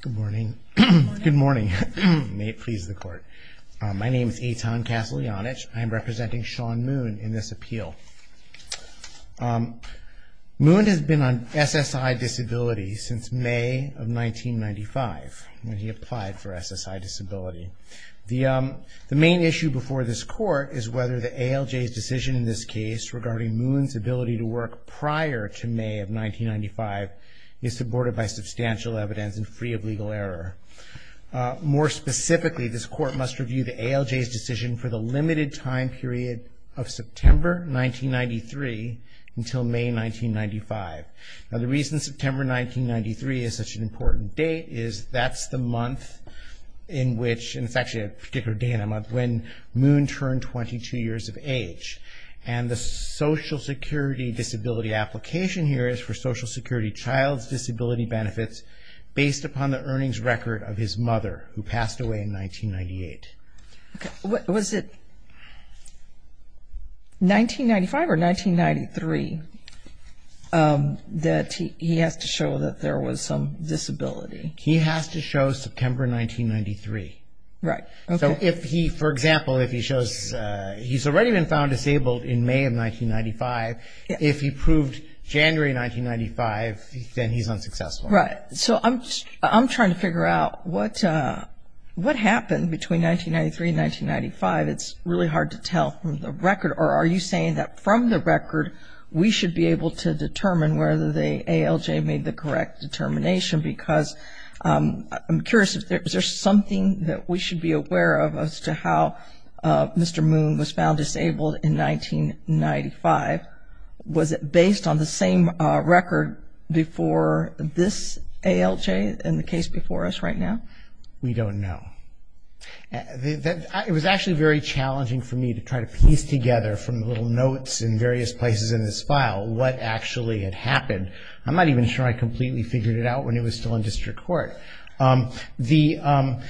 Good morning. Good morning. May it please the court. My name is Eitan Kasaljanych. I am representing Sean Moon in this appeal. Moon has been on SSI disability since May of 1995 when he applied for SSI disability. The main issue before this court is whether the ALJ's decision in this case regarding Moon's ability to work prior to May of 1995 is supported by substantial evidence and free of legal error. More specifically, this court must review the ALJ's decision for the limited time period of September 1993 until May 1995. Now the reason September 1993 is such an important date is that's the month in which, and it's actually a particular day in the month, when Moon turned 22 years of age. And the Social Security disability application here is for Social Security child's disability benefits based upon the earnings record of his mother who passed away in 1998. Was it 1995 or 1993 that he has to show that there was some disability? He has to show September 1993. So if he, for example, if he shows he's already been found disabled in May of 1995, if he proved January 1995, then he's unsuccessful. Right. So I'm trying to figure out what happened between 1993 and 1995. It's really hard to tell from the record, or are you saying that from the record we should be able to determine whether the ALJ made the correct determination because I'm curious, is there something that we should be aware of as to how Mr. Moon was found disabled in 1995? Was it based on the same record before this ALJ and the case before us right now? We don't know. It was actually very challenging for me to try to piece together from the little notes in various places in this file what actually had happened. I'm not even sure I completely figured it out when it was still in district court. The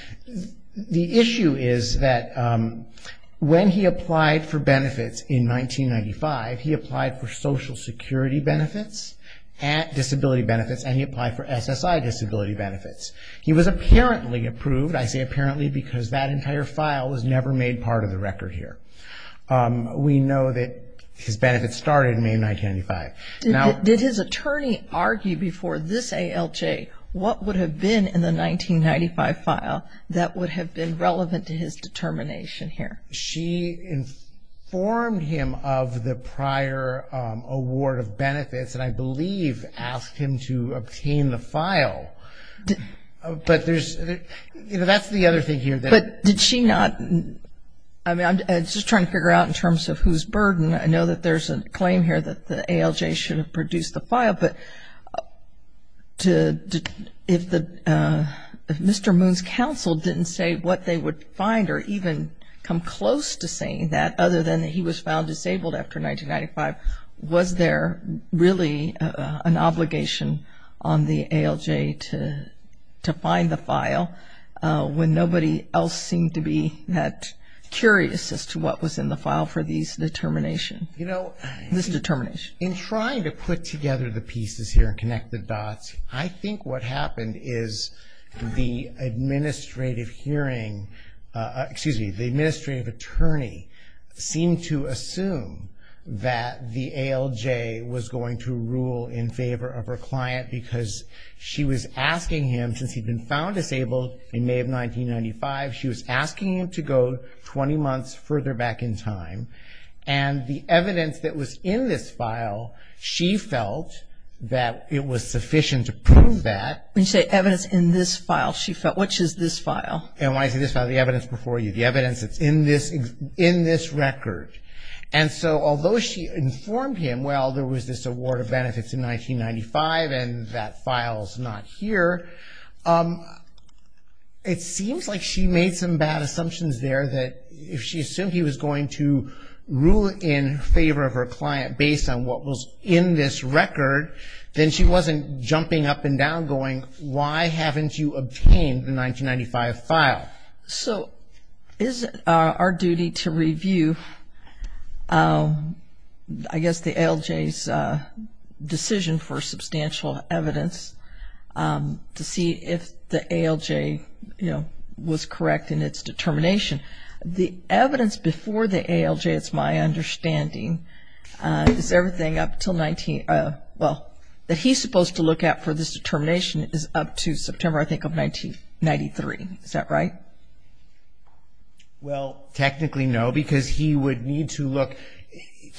issue is that when he applied for benefits in 1995, he applied for Social Security benefits, disability benefits, and he applied for SSI disability benefits. He was apparently approved, I say apparently because that entire file was never made part of the record here. We know that his benefits started in May of 1995. Did his attorney argue before this ALJ what would have been in the 1995 file that would have been relevant to his determination here? She informed him of the prior award of benefits, and I believe asked him to obtain the file. But that's the other thing here. But did she not, I mean, I'm just trying to figure out in terms of whose burden. I know that there's a claim here that the ALJ should have produced the file, but if Mr. Moon's counsel didn't say what they would find or even come close to saying that, other than that he was found disabled after 1995, was there really an obligation on the ALJ to find the file when nobody else seemed to be that curious as to what was in the file for this determination? In trying to put together the pieces here and connect the dots, I think what happened is the administrative hearing, excuse me, the administrative attorney seemed to assume that the ALJ was going to rule in favor of her client because she was asking him, since he'd been found disabled in May of 1995, she was asking him to go 20 months further back in time. And the evidence that was in this file, she felt that it was sufficient to prove that. When you say evidence in this file, she felt, which is this file? And when I say this file, the evidence before you, the evidence that's in this record. And so although she informed him, well, there was this award of benefits in 1995, and that file's not here, it seems like she made some bad assumptions there that if she assumed he was going to rule in favor of her client based on what was in this record, then she wasn't jumping up and down going, why haven't you obtained the 1995 file? So is it our duty to review, I guess, the ALJ's decision for substantial evidence to see if the ALJ, you know, was correct in its determination? The evidence before the ALJ, it's my understanding, is everything up until 19 – well, that he's supposed to look at for this determination is up to September, I think, of 1993. Is that right? Well, technically, no, because he would need to look.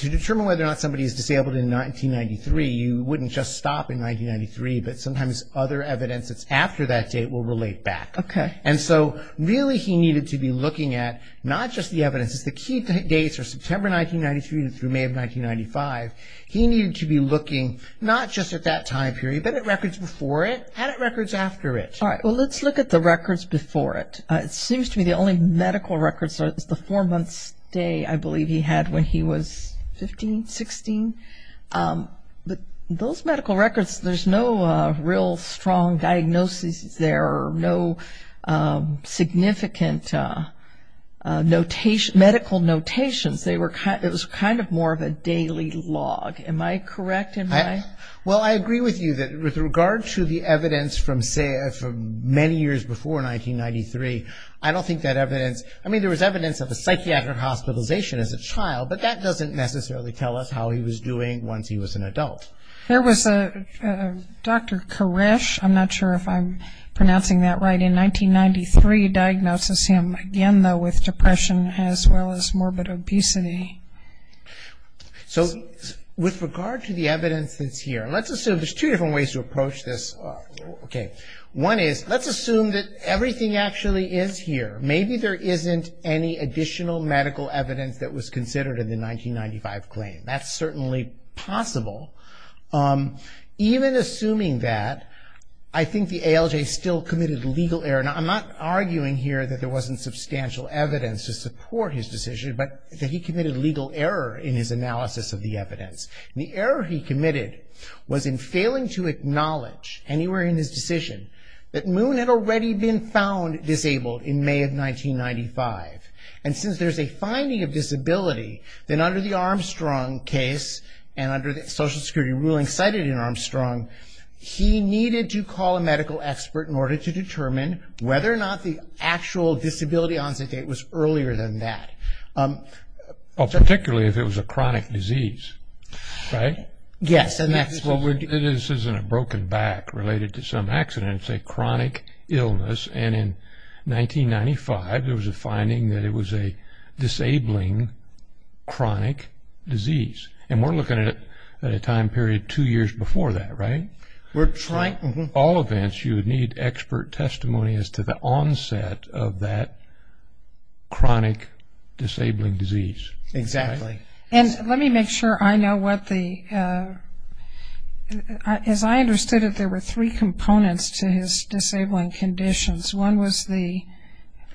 To determine whether or not somebody is disabled in 1993, you wouldn't just stop in 1993, but sometimes other evidence that's after that date will relate back. Okay. And so really he needed to be looking at not just the evidence. It's the key dates are September 1993 through May of 1995. He needed to be looking not just at that time period, but at records before it and at records after it. All right, well, let's look at the records before it. It seems to me the only medical records are the four-month stay, I believe, he had when he was 15, 16. But those medical records, there's no real strong diagnosis there, or no significant medical notations. It was kind of more of a daily log. Am I correct in my – Well, I agree with you that with regard to the evidence from many years before 1993, I don't think that evidence – I mean, there was evidence of a psychiatric hospitalization as a child, but that doesn't necessarily tell us how he was doing once he was an adult. There was a – Dr. Koresh, I'm not sure if I'm pronouncing that right, in 1993, again, though, with depression as well as morbid obesity. So with regard to the evidence that's here, let's assume – there's two different ways to approach this. Okay. One is let's assume that everything actually is here. Maybe there isn't any additional medical evidence that was considered in the 1995 claim. That's certainly possible. Even assuming that, I think the ALJ still committed a legal error. Now, I'm not arguing here that there wasn't substantial evidence to support his decision, but that he committed a legal error in his analysis of the evidence. The error he committed was in failing to acknowledge anywhere in his decision that Moon had already been found disabled in May of 1995. And since there's a finding of disability, then under the Armstrong case, and under the Social Security ruling cited in Armstrong, he needed to call a medical expert in order to determine whether or not the actual disability onset date was earlier than that. Particularly if it was a chronic disease, right? Yes. This isn't a broken back related to some accident. It's a chronic illness. And in 1995, there was a finding that it was a disabling chronic disease. And we're looking at a time period two years before that, right? All events, you would need expert testimony as to the onset of that chronic disabling disease. Exactly. And let me make sure I know what the – as I understood it, there were three components to his disabling conditions. One was the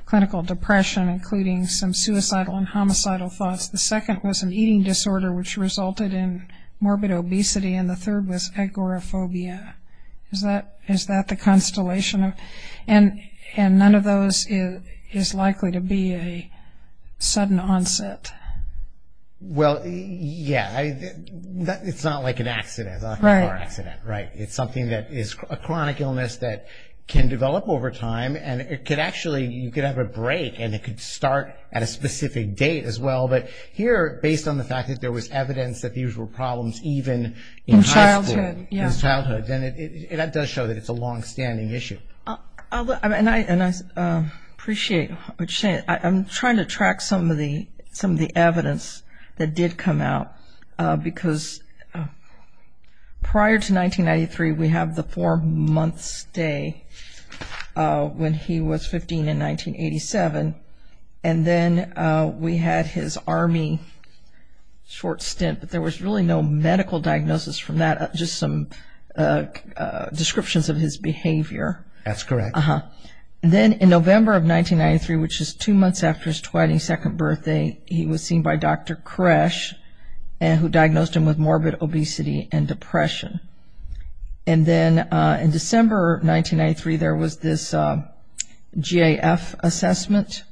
clinical depression, including some suicidal and homicidal thoughts. The second was an eating disorder, which resulted in morbid obesity. And the third was agoraphobia. Is that the constellation? And none of those is likely to be a sudden onset. Well, yeah. It's not like an accident. Right. It's something that is a chronic illness that can develop over time. And it could actually – you could have a break, and it could start at a specific date as well. But here, based on the fact that there was evidence that these were problems even in high school, in his childhood, then that does show that it's a longstanding issue. And I appreciate what you're saying. I'm trying to track some of the evidence that did come out, because prior to 1993, we have the four-month stay when he was 15 in 1987. And then we had his Army short stint, but there was really no medical diagnosis from that, just some descriptions of his behavior. That's correct. And then in November of 1993, which is two months after his 22nd birthday, he was seen by Dr. Koresh, who diagnosed him with morbid obesity and depression. And then in December of 1993, there was this GAF assessment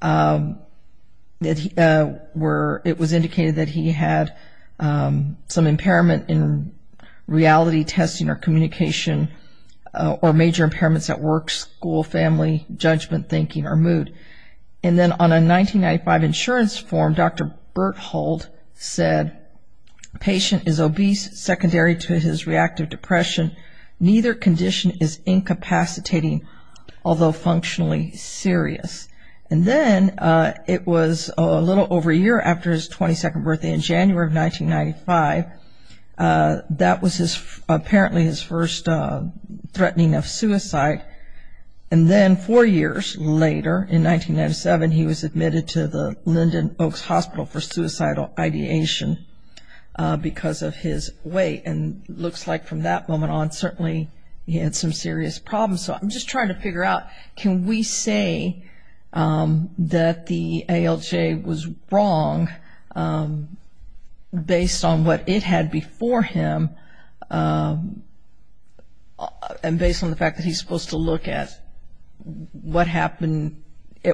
where it was indicated that he had some impairment in reality testing or communication or major impairments at work, school, family, judgment, thinking, or mood. And then on a 1995 insurance form, Dr. Berthold said, patient is obese secondary to his reactive depression. Neither condition is incapacitating, although functionally serious. And then it was a little over a year after his 22nd birthday in January of 1995, that was apparently his first threatening of suicide. And then four years later, in 1997, he was admitted to the Linden Oaks Hospital for suicidal ideation because of his weight. And it looks like from that moment on, certainly he had some serious problems. So I'm just trying to figure out, can we say that the ALJ was wrong based on what it had before him and based on the fact that he's supposed to look at what happened,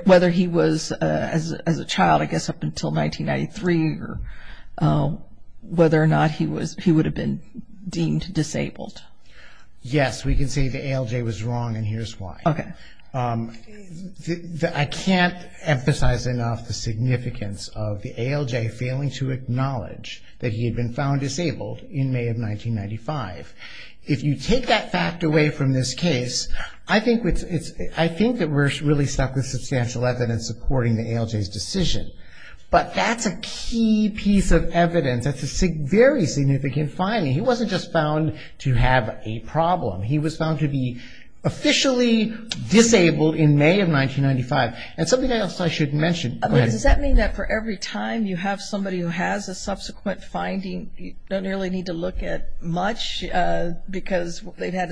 whether he was as a child I guess up until 1993 or whether or not he would have been deemed disabled? Yes, we can say the ALJ was wrong and here's why. Okay. I can't emphasize enough the significance of the ALJ failing to acknowledge that he had been found disabled in May of 1995. If you take that fact away from this case, I think that we're really stuck with substantial evidence according to ALJ's decision. But that's a key piece of evidence. That's a very significant finding. He wasn't just found to have a problem. He was found to be officially disabled in May of 1995. And something else I should mention. Does that mean that for every time you have somebody who has a subsequent finding, you don't really need to look at much because they've had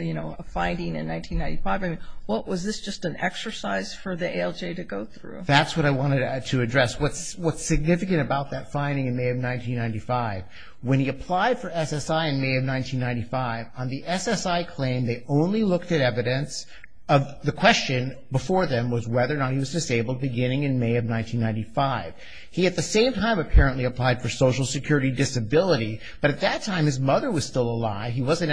a finding in 1995? I mean, was this just an exercise for the ALJ to go through? That's what I wanted to address, what's significant about that finding in May of 1995. When he applied for SSI in May of 1995, on the SSI claim, they only looked at evidence of the question before them was whether or not he was disabled beginning in May of 1995. He at the same time apparently applied for Social Security Disability, but at that time his mother was still alive. He wasn't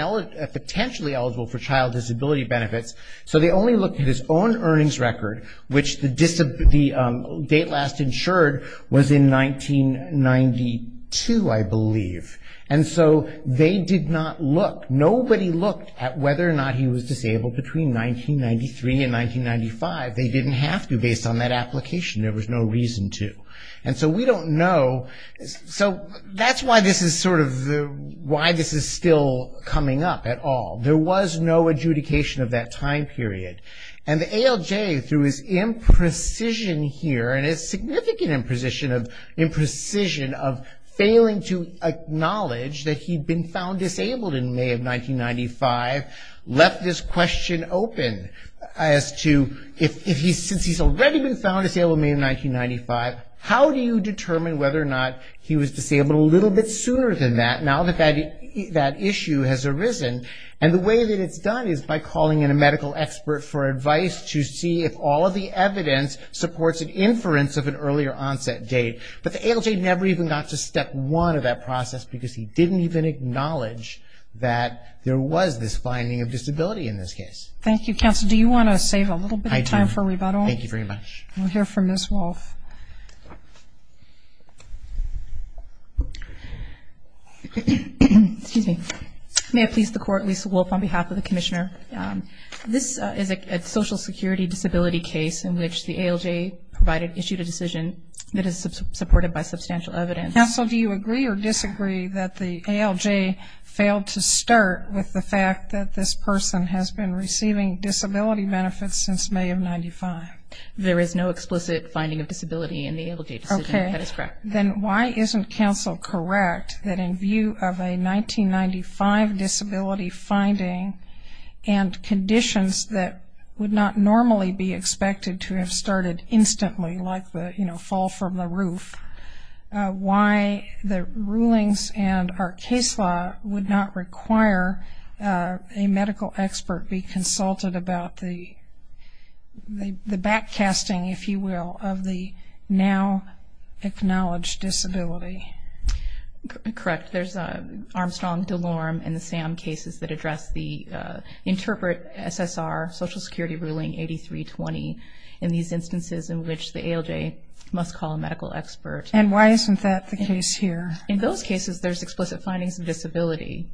potentially eligible for child disability benefits. So they only looked at his own earnings record, which the date last insured was in 1992, I believe. And so they did not look. Nobody looked at whether or not he was disabled between 1993 and 1995. They didn't have to based on that application. There was no reason to. And so we don't know. So that's why this is sort of why this is still coming up at all. There was no adjudication of that time period. And the ALJ, through his imprecision here, and his significant imprecision of failing to acknowledge that he'd been found disabled in May of 1995, left this question open as to, since he's already been found disabled in May of 1995, how do you determine whether or not he was disabled a little bit sooner than that, now that that issue has arisen? And the way that it's done is by calling in a medical expert for advice to see if all of the evidence supports an inference of an earlier onset date. But the ALJ never even got to step one of that process because he didn't even acknowledge that there was this finding of disability in this case. Thank you, Counsel. Do you want to save a little bit of time for rebuttal? I do. Thank you very much. We'll hear from Ms. Wolfe. Excuse me. May it please the Court, Lisa Wolfe on behalf of the Commissioner. This is a Social Security disability case in which the ALJ provided, issued a decision that is supported by substantial evidence. Counsel, do you agree or disagree that the ALJ failed to start with the fact that this person has been receiving disability benefits since May of 1995? There is no explicit finding of disability in the ALJ decision. Okay. That is correct. Then why isn't Counsel correct that in view of a 1995 disability finding and conditions that would not normally be expected to have started instantly, like the fall from the roof, why the rulings and our case law would not require a medical expert be consulted about the backcasting, if you will, of the now-acknowledged disability? Correct. There's Armstrong, DeLorme, and the Sam cases that address the interpret SSR Social Security ruling 8320 in these instances in which the ALJ must call a medical expert. And why isn't that the case here? In those cases, there's explicit findings of disability.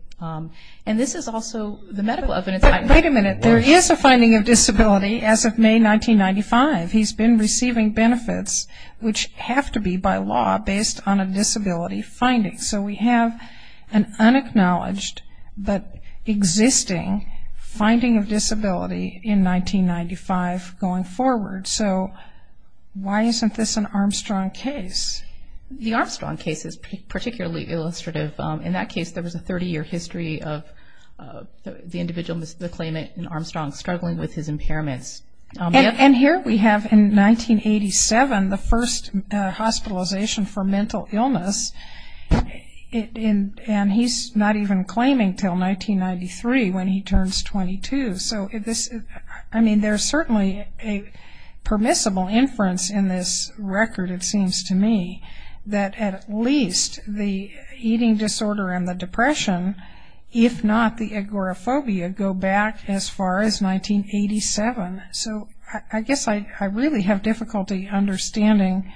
And this is also the medical evidence. Wait a minute. There is a finding of disability as of May 1995. He's been receiving benefits, which have to be by law based on a disability finding. So we have an unacknowledged but existing finding of disability in 1995 going forward. So why isn't this an Armstrong case? The Armstrong case is particularly illustrative. In that case, there was a 30-year history of the individual, the claimant in Armstrong struggling with his impairments. And here we have in 1987 the first hospitalization for mental illness. And he's not even claiming until 1993 when he turns 22. So, I mean, there's certainly a permissible inference in this record, it seems to me, that at least the eating disorder and the depression, if not the agoraphobia, go back as far as 1987. So I guess I really have difficulty understanding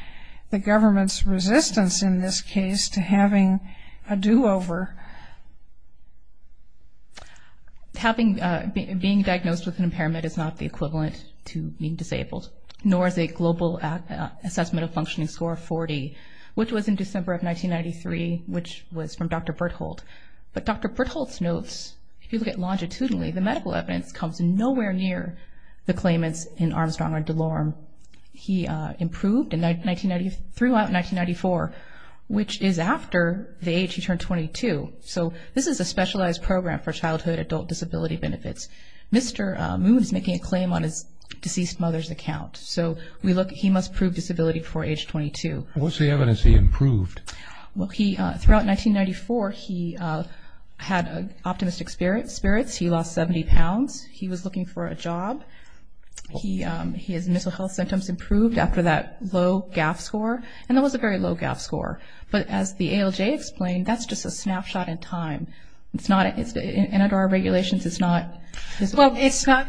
the government's resistance, in this case, to having a do-over. Being diagnosed with an impairment is not the equivalent to being disabled, nor is a global assessment of functioning score of 40, which was in December of 1993, which was from Dr. Bertholdt. But Dr. Bertholdt notes, if you look at longitudinally, the medical evidence comes nowhere near the claimants in Armstrong or DeLorme. He improved throughout 1994, which is after the age he turned 22. So this is a specialized program for childhood adult disability benefits. Mr. Moon is making a claim on his deceased mother's account. So he must prove disability before age 22. What's the evidence he improved? Well, throughout 1994, he had optimistic spirits. He lost 70 pounds. He was looking for a job. His mental health symptoms improved after that low GAF score, and that was a very low GAF score. But as the ALJ explained, that's just a snapshot in time. In our regulations, it's not visible. Well,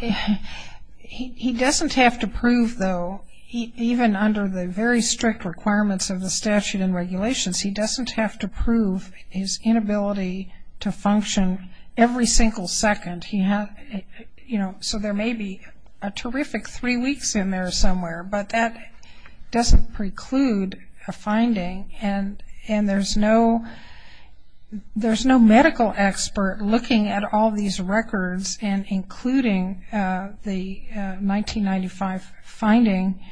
he doesn't have to prove, though, even under the very strict requirements of the statute and regulations, he doesn't have to prove his inability to function every single second. You know, so there may be a terrific three weeks in there somewhere, but that doesn't preclude a finding, and there's no medical expert looking at all these records and including the 1995 finding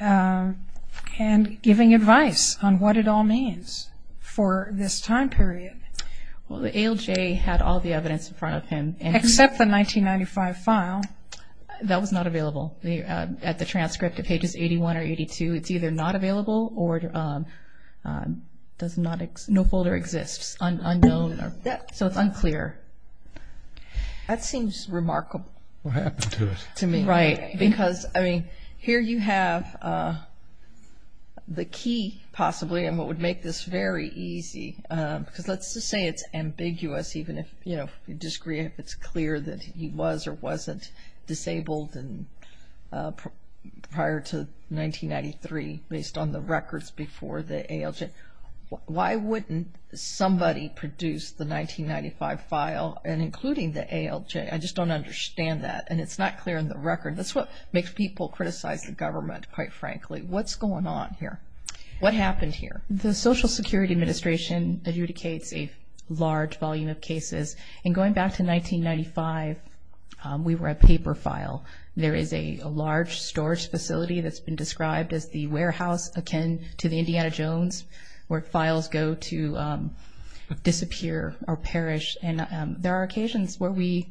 and giving advice on what it all means for this time period. Well, the ALJ had all the evidence in front of him. Except the 1995 file. That was not available. At the transcript at pages 81 or 82, it's either not available or no folder exists, unknown, so it's unclear. That seems remarkable. What happened to it? To me. Right. Because, I mean, here you have the key, possibly, and what would make this very easy, because let's just say it's ambiguous even if, you know, if it's clear that he was or wasn't disabled prior to 1993 based on the records before the ALJ. Why wouldn't somebody produce the 1995 file and including the ALJ? I just don't understand that, and it's not clear in the record. That's what makes people criticize the government, quite frankly. What's going on here? What happened here? The Social Security Administration adjudicates a large volume of cases, and going back to 1995, we were a paper file. There is a large storage facility that's been described as the warehouse akin to the Indiana Jones where files go to disappear or perish, and there are occasions where we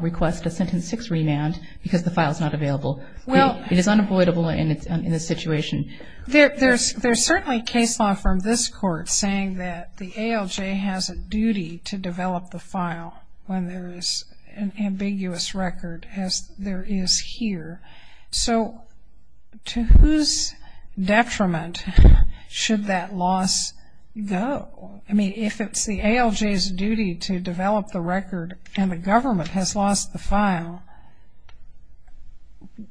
request a sentence six remand because the file's not available. It is unavoidable in this situation. There's certainly case law from this court saying that the ALJ has a duty to develop the file when there is an ambiguous record as there is here. So to whose detriment should that loss go? I mean, if it's the ALJ's duty to develop the record and the government has lost the file,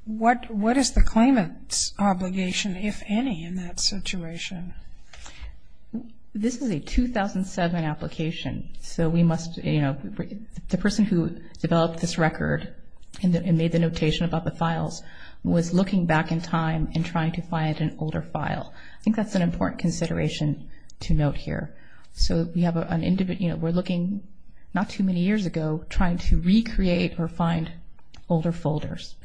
what is the claimant's obligation, if any, in that situation? This is a 2007 application, so we must, you know, the person who developed this record and made the notation about the files was looking back in time and trying to find an older file. I think that's an important consideration to note here. So we're looking not too many years ago trying to recreate or find older folders,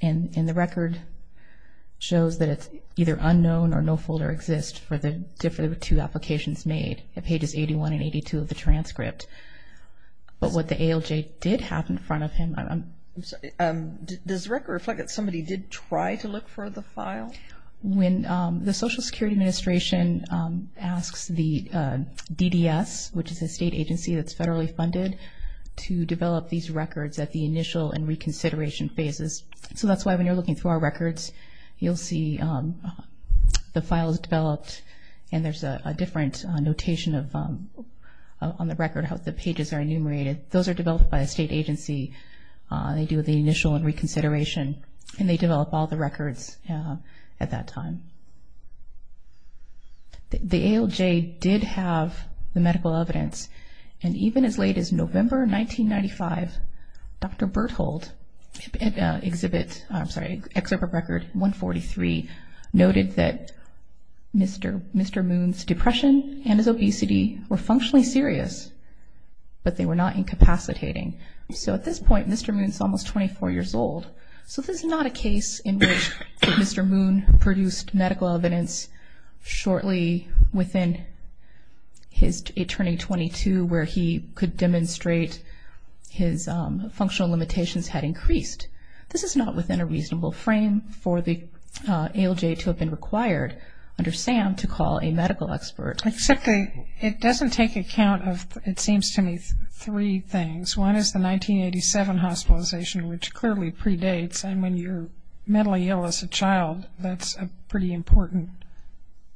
and the record shows that it's either unknown or no folder exists for the two applications made at pages 81 and 82 of the transcript. But what the ALJ did have in front of him, I'm sorry, does the record reflect that somebody did try to look for the file? When the Social Security Administration asks the DDS, which is a state agency that's federally funded, to develop these records at the initial and reconsideration phases. So that's why when you're looking through our records, you'll see the file is developed and there's a different notation on the record how the pages are enumerated. Those are developed by a state agency. They do the initial and reconsideration, and they develop all the records at that time. The ALJ did have the medical evidence, and even as late as November 1995, Dr. Berthold in Excerpt of Record 143 noted that Mr. Moon's depression and his obesity were functionally serious, but they were not incapacitating. So at this point, Mr. Moon is almost 24 years old. So this is not a case in which Mr. Moon produced medical evidence shortly within his turning 22 where he could demonstrate his functional limitations had increased. This is not within a reasonable frame for the ALJ to have been required under SAM to call a medical expert. Except it doesn't take account of, it seems to me, three things. One is the 1987 hospitalization, which clearly predates, and when you're mentally ill as a child, that's a pretty important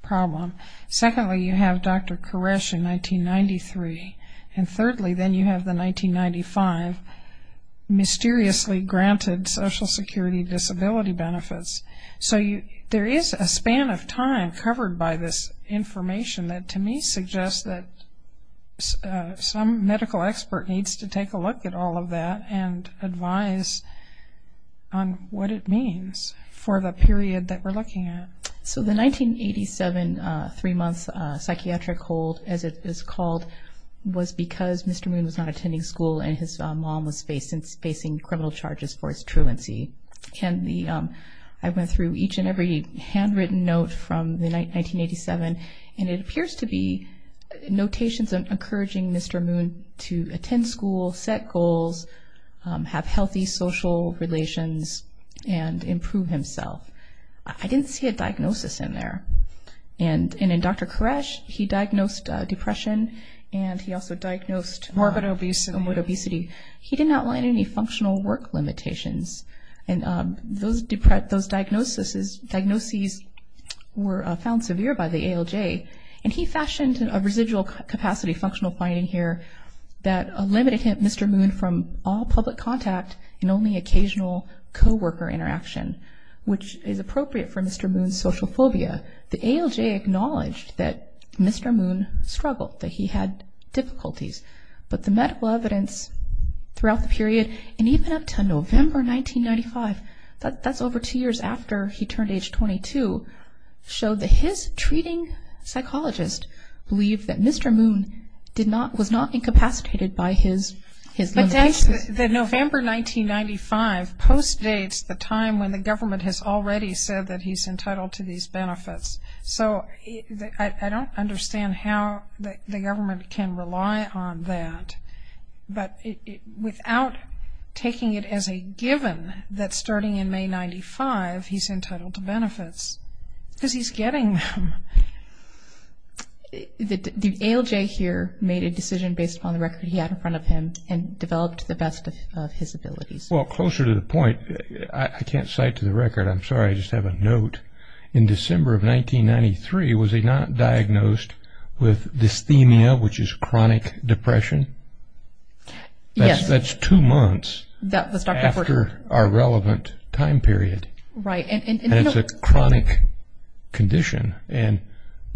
problem. Secondly, you have Dr. Koresh in 1993. And thirdly, then you have the 1995 mysteriously granted social security disability benefits. So there is a span of time covered by this information that, to me, suggests that some medical expert needs to take a look at all of that and advise on what it means for the period that we're looking at. So the 1987 three-month psychiatric hold, as it is called, was because Mr. Moon was not attending school and his mom was facing criminal charges for his truancy. I went through each and every handwritten note from 1987, and it appears to be notations encouraging Mr. Moon to attend school, set goals, have healthy social relations, and improve himself. I didn't see a diagnosis in there. And in Dr. Koresh, he diagnosed depression, and he also diagnosed morbid obesity. He didn't outline any functional work limitations. And those diagnoses were found severe by the ALJ, and he fashioned a residual capacity functional finding here that limited Mr. Moon from all public contact and only occasional co-worker interaction, which is appropriate for Mr. Moon's social phobia. The ALJ acknowledged that Mr. Moon struggled, that he had difficulties. But the medical evidence throughout the period, and even up to November 1995, that's over two years after he turned age 22, showed that his treating psychologist believed that Mr. Moon was not incapacitated by his limitations. The November 1995 post dates the time when the government has already said that he's entitled to these benefits. So I don't understand how the government can rely on that, but without taking it as a given that starting in May 1995 he's entitled to benefits, because he's getting them. The ALJ here made a decision based upon the record he had in front of him and developed the best of his abilities. Well, closer to the point, I can't cite to the record, I'm sorry, I just have a note. In December of 1993, was he not diagnosed with dysthemia, which is chronic depression? Yes. That's two months after our relevant time period. Right. And it's a chronic condition,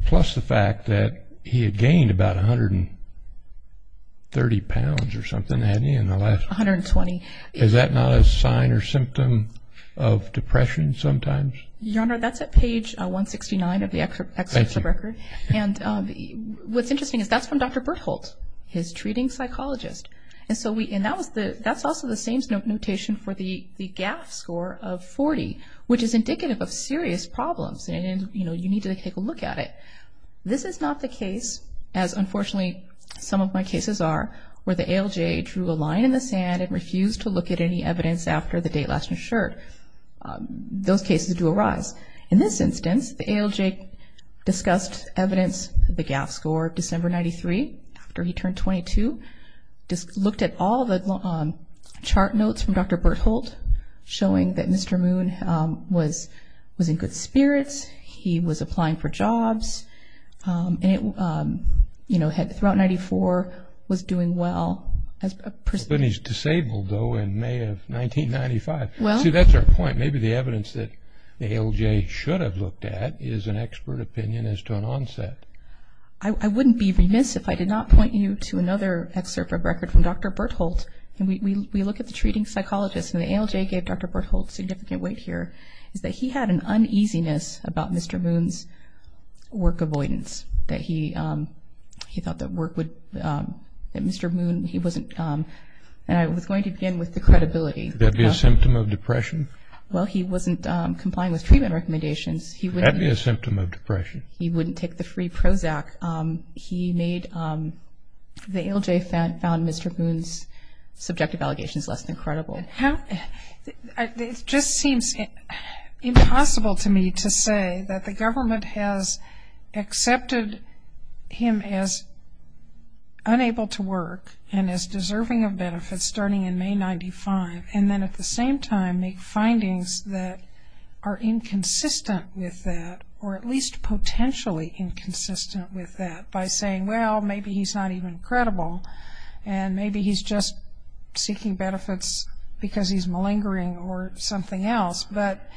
plus the fact that he had gained about 130 pounds or something, hadn't he? 120. Is that not a sign or symptom of depression sometimes? Your Honor, that's at page 169 of the excerpt of the record. Thank you. And what's interesting is that's from Dr. Bertholdt, his treating psychologist. And that's also the same notation for the GAF score of 40, which is indicative of serious problems, and you need to take a look at it. This is not the case, as unfortunately some of my cases are, where the ALJ drew a line in the sand and refused to look at any evidence after the date last ensured. Those cases do arise. In this instance, the ALJ discussed evidence of the GAF score December 93, after he turned 22, looked at all the chart notes from Dr. Bertholdt, showing that Mr. Moon was in good spirits, he was applying for jobs, and throughout 94 was doing well as a person. But then he's disabled, though, in May of 1995. See, that's our point. Maybe the evidence that the ALJ should have looked at is an expert opinion as to an onset. I wouldn't be remiss if I did not point you to another excerpt of record from Dr. Bertholdt. And we look at the treating psychologist, and the ALJ gave Dr. Bertholdt significant weight here, is that he had an uneasiness about Mr. Moon's work avoidance, that he thought that Mr. Moon, he wasn't, and I was going to begin with the credibility. Would that be a symptom of depression? Well, he wasn't complying with treatment recommendations. That would be a symptom of depression. He wouldn't take the free Prozac. He made, the ALJ found Mr. Moon's subjective allegations less than credible. It just seems impossible to me to say that the government has accepted him as unable to work and as deserving of benefits starting in May of 1995, and then at the same time make findings that are inconsistent with that, or at least potentially inconsistent with that by saying, well, maybe he's not even credible, and maybe he's just seeking benefits because he's malingering or something else. But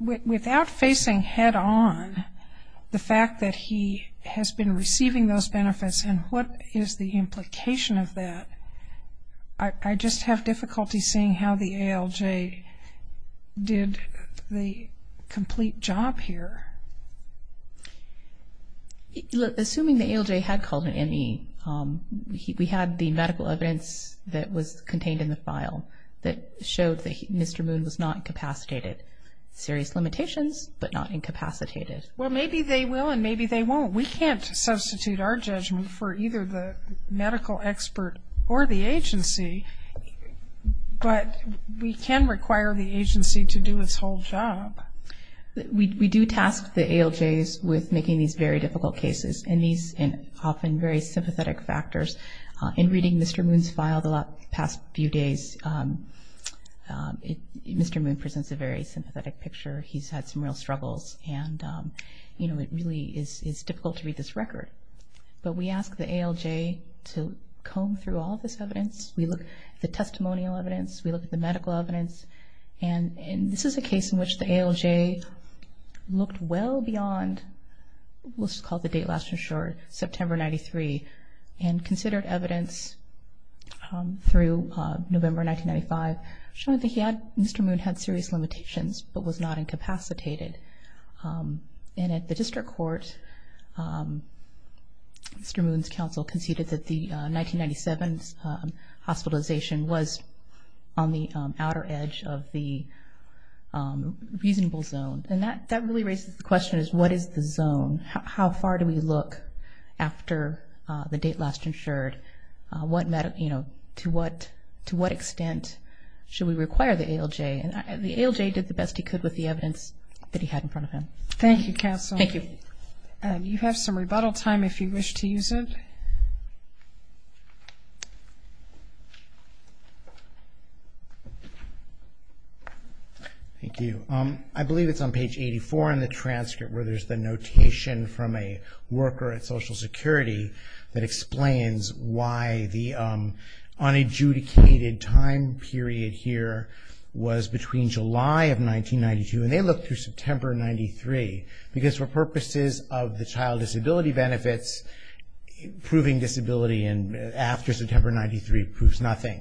without facing head-on the fact that he has been receiving those benefits, and what is the implication of that, I just have difficulty seeing how the ALJ did the complete job here. Assuming the ALJ had called an ME, we had the medical evidence that was contained in the file that showed that Mr. Moon was not incapacitated. Serious limitations, but not incapacitated. Well, maybe they will and maybe they won't. We can't substitute our judgment for either the medical expert or the agency, but we can require the agency to do its whole job. We do task the ALJs with making these very difficult cases, and these are often very sympathetic factors. In reading Mr. Moon's file the past few days, Mr. Moon presents a very sympathetic picture. He's had some real struggles, and, you know, it really is difficult to read this record. But we ask the ALJ to comb through all of this evidence. We look at the testimonial evidence. We look at the medical evidence. And this is a case in which the ALJ looked well beyond what's called the date last insured, September 93, and considered evidence through November 1995, showing that Mr. Moon had serious limitations but was not incapacitated. And at the district court, Mr. Moon's counsel conceded that the 1997 hospitalization was on the outer edge of the reasonable zone. And that really raises the question is what is the zone? How far do we look after the date last insured? You know, to what extent should we require the ALJ? And the ALJ did the best he could with the evidence that he had in front of him. Thank you, counsel. Thank you. You have some rebuttal time if you wish to use it. Thank you. I believe it's on page 84 in the transcript where there's the notation from a worker at Social Security that explains why the unadjudicated time period here was between July of 1992. And they looked through September 93 because for purposes of the child disability benefits, proving disability after September 93 proves nothing.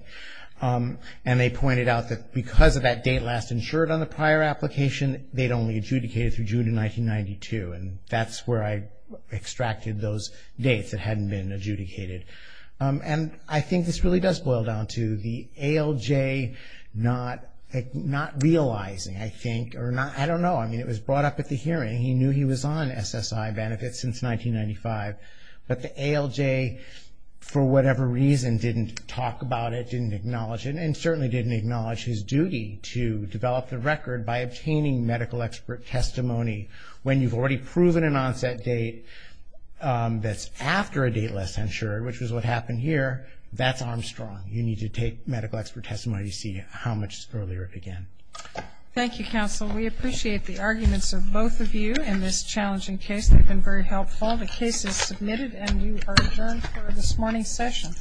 And they pointed out that because of that date last insured on the prior application, they'd only adjudicated through June of 1992. And that's where I extracted those dates that hadn't been adjudicated. And I think this really does boil down to the ALJ not realizing, I think, or not, I don't know. I mean, it was brought up at the hearing. He knew he was on SSI benefits since 1995. But the ALJ, for whatever reason, didn't talk about it, didn't acknowledge it, and certainly didn't acknowledge his duty to develop the record by obtaining medical expert testimony when you've already proven an onset date that's after a date last insured, which is what happened here. That's Armstrong. You need to take medical expert testimony to see how much earlier it began. Thank you, counsel. We appreciate the arguments of both of you in this challenging case. They've been very helpful. The case is submitted and you are adjourned for this morning's session.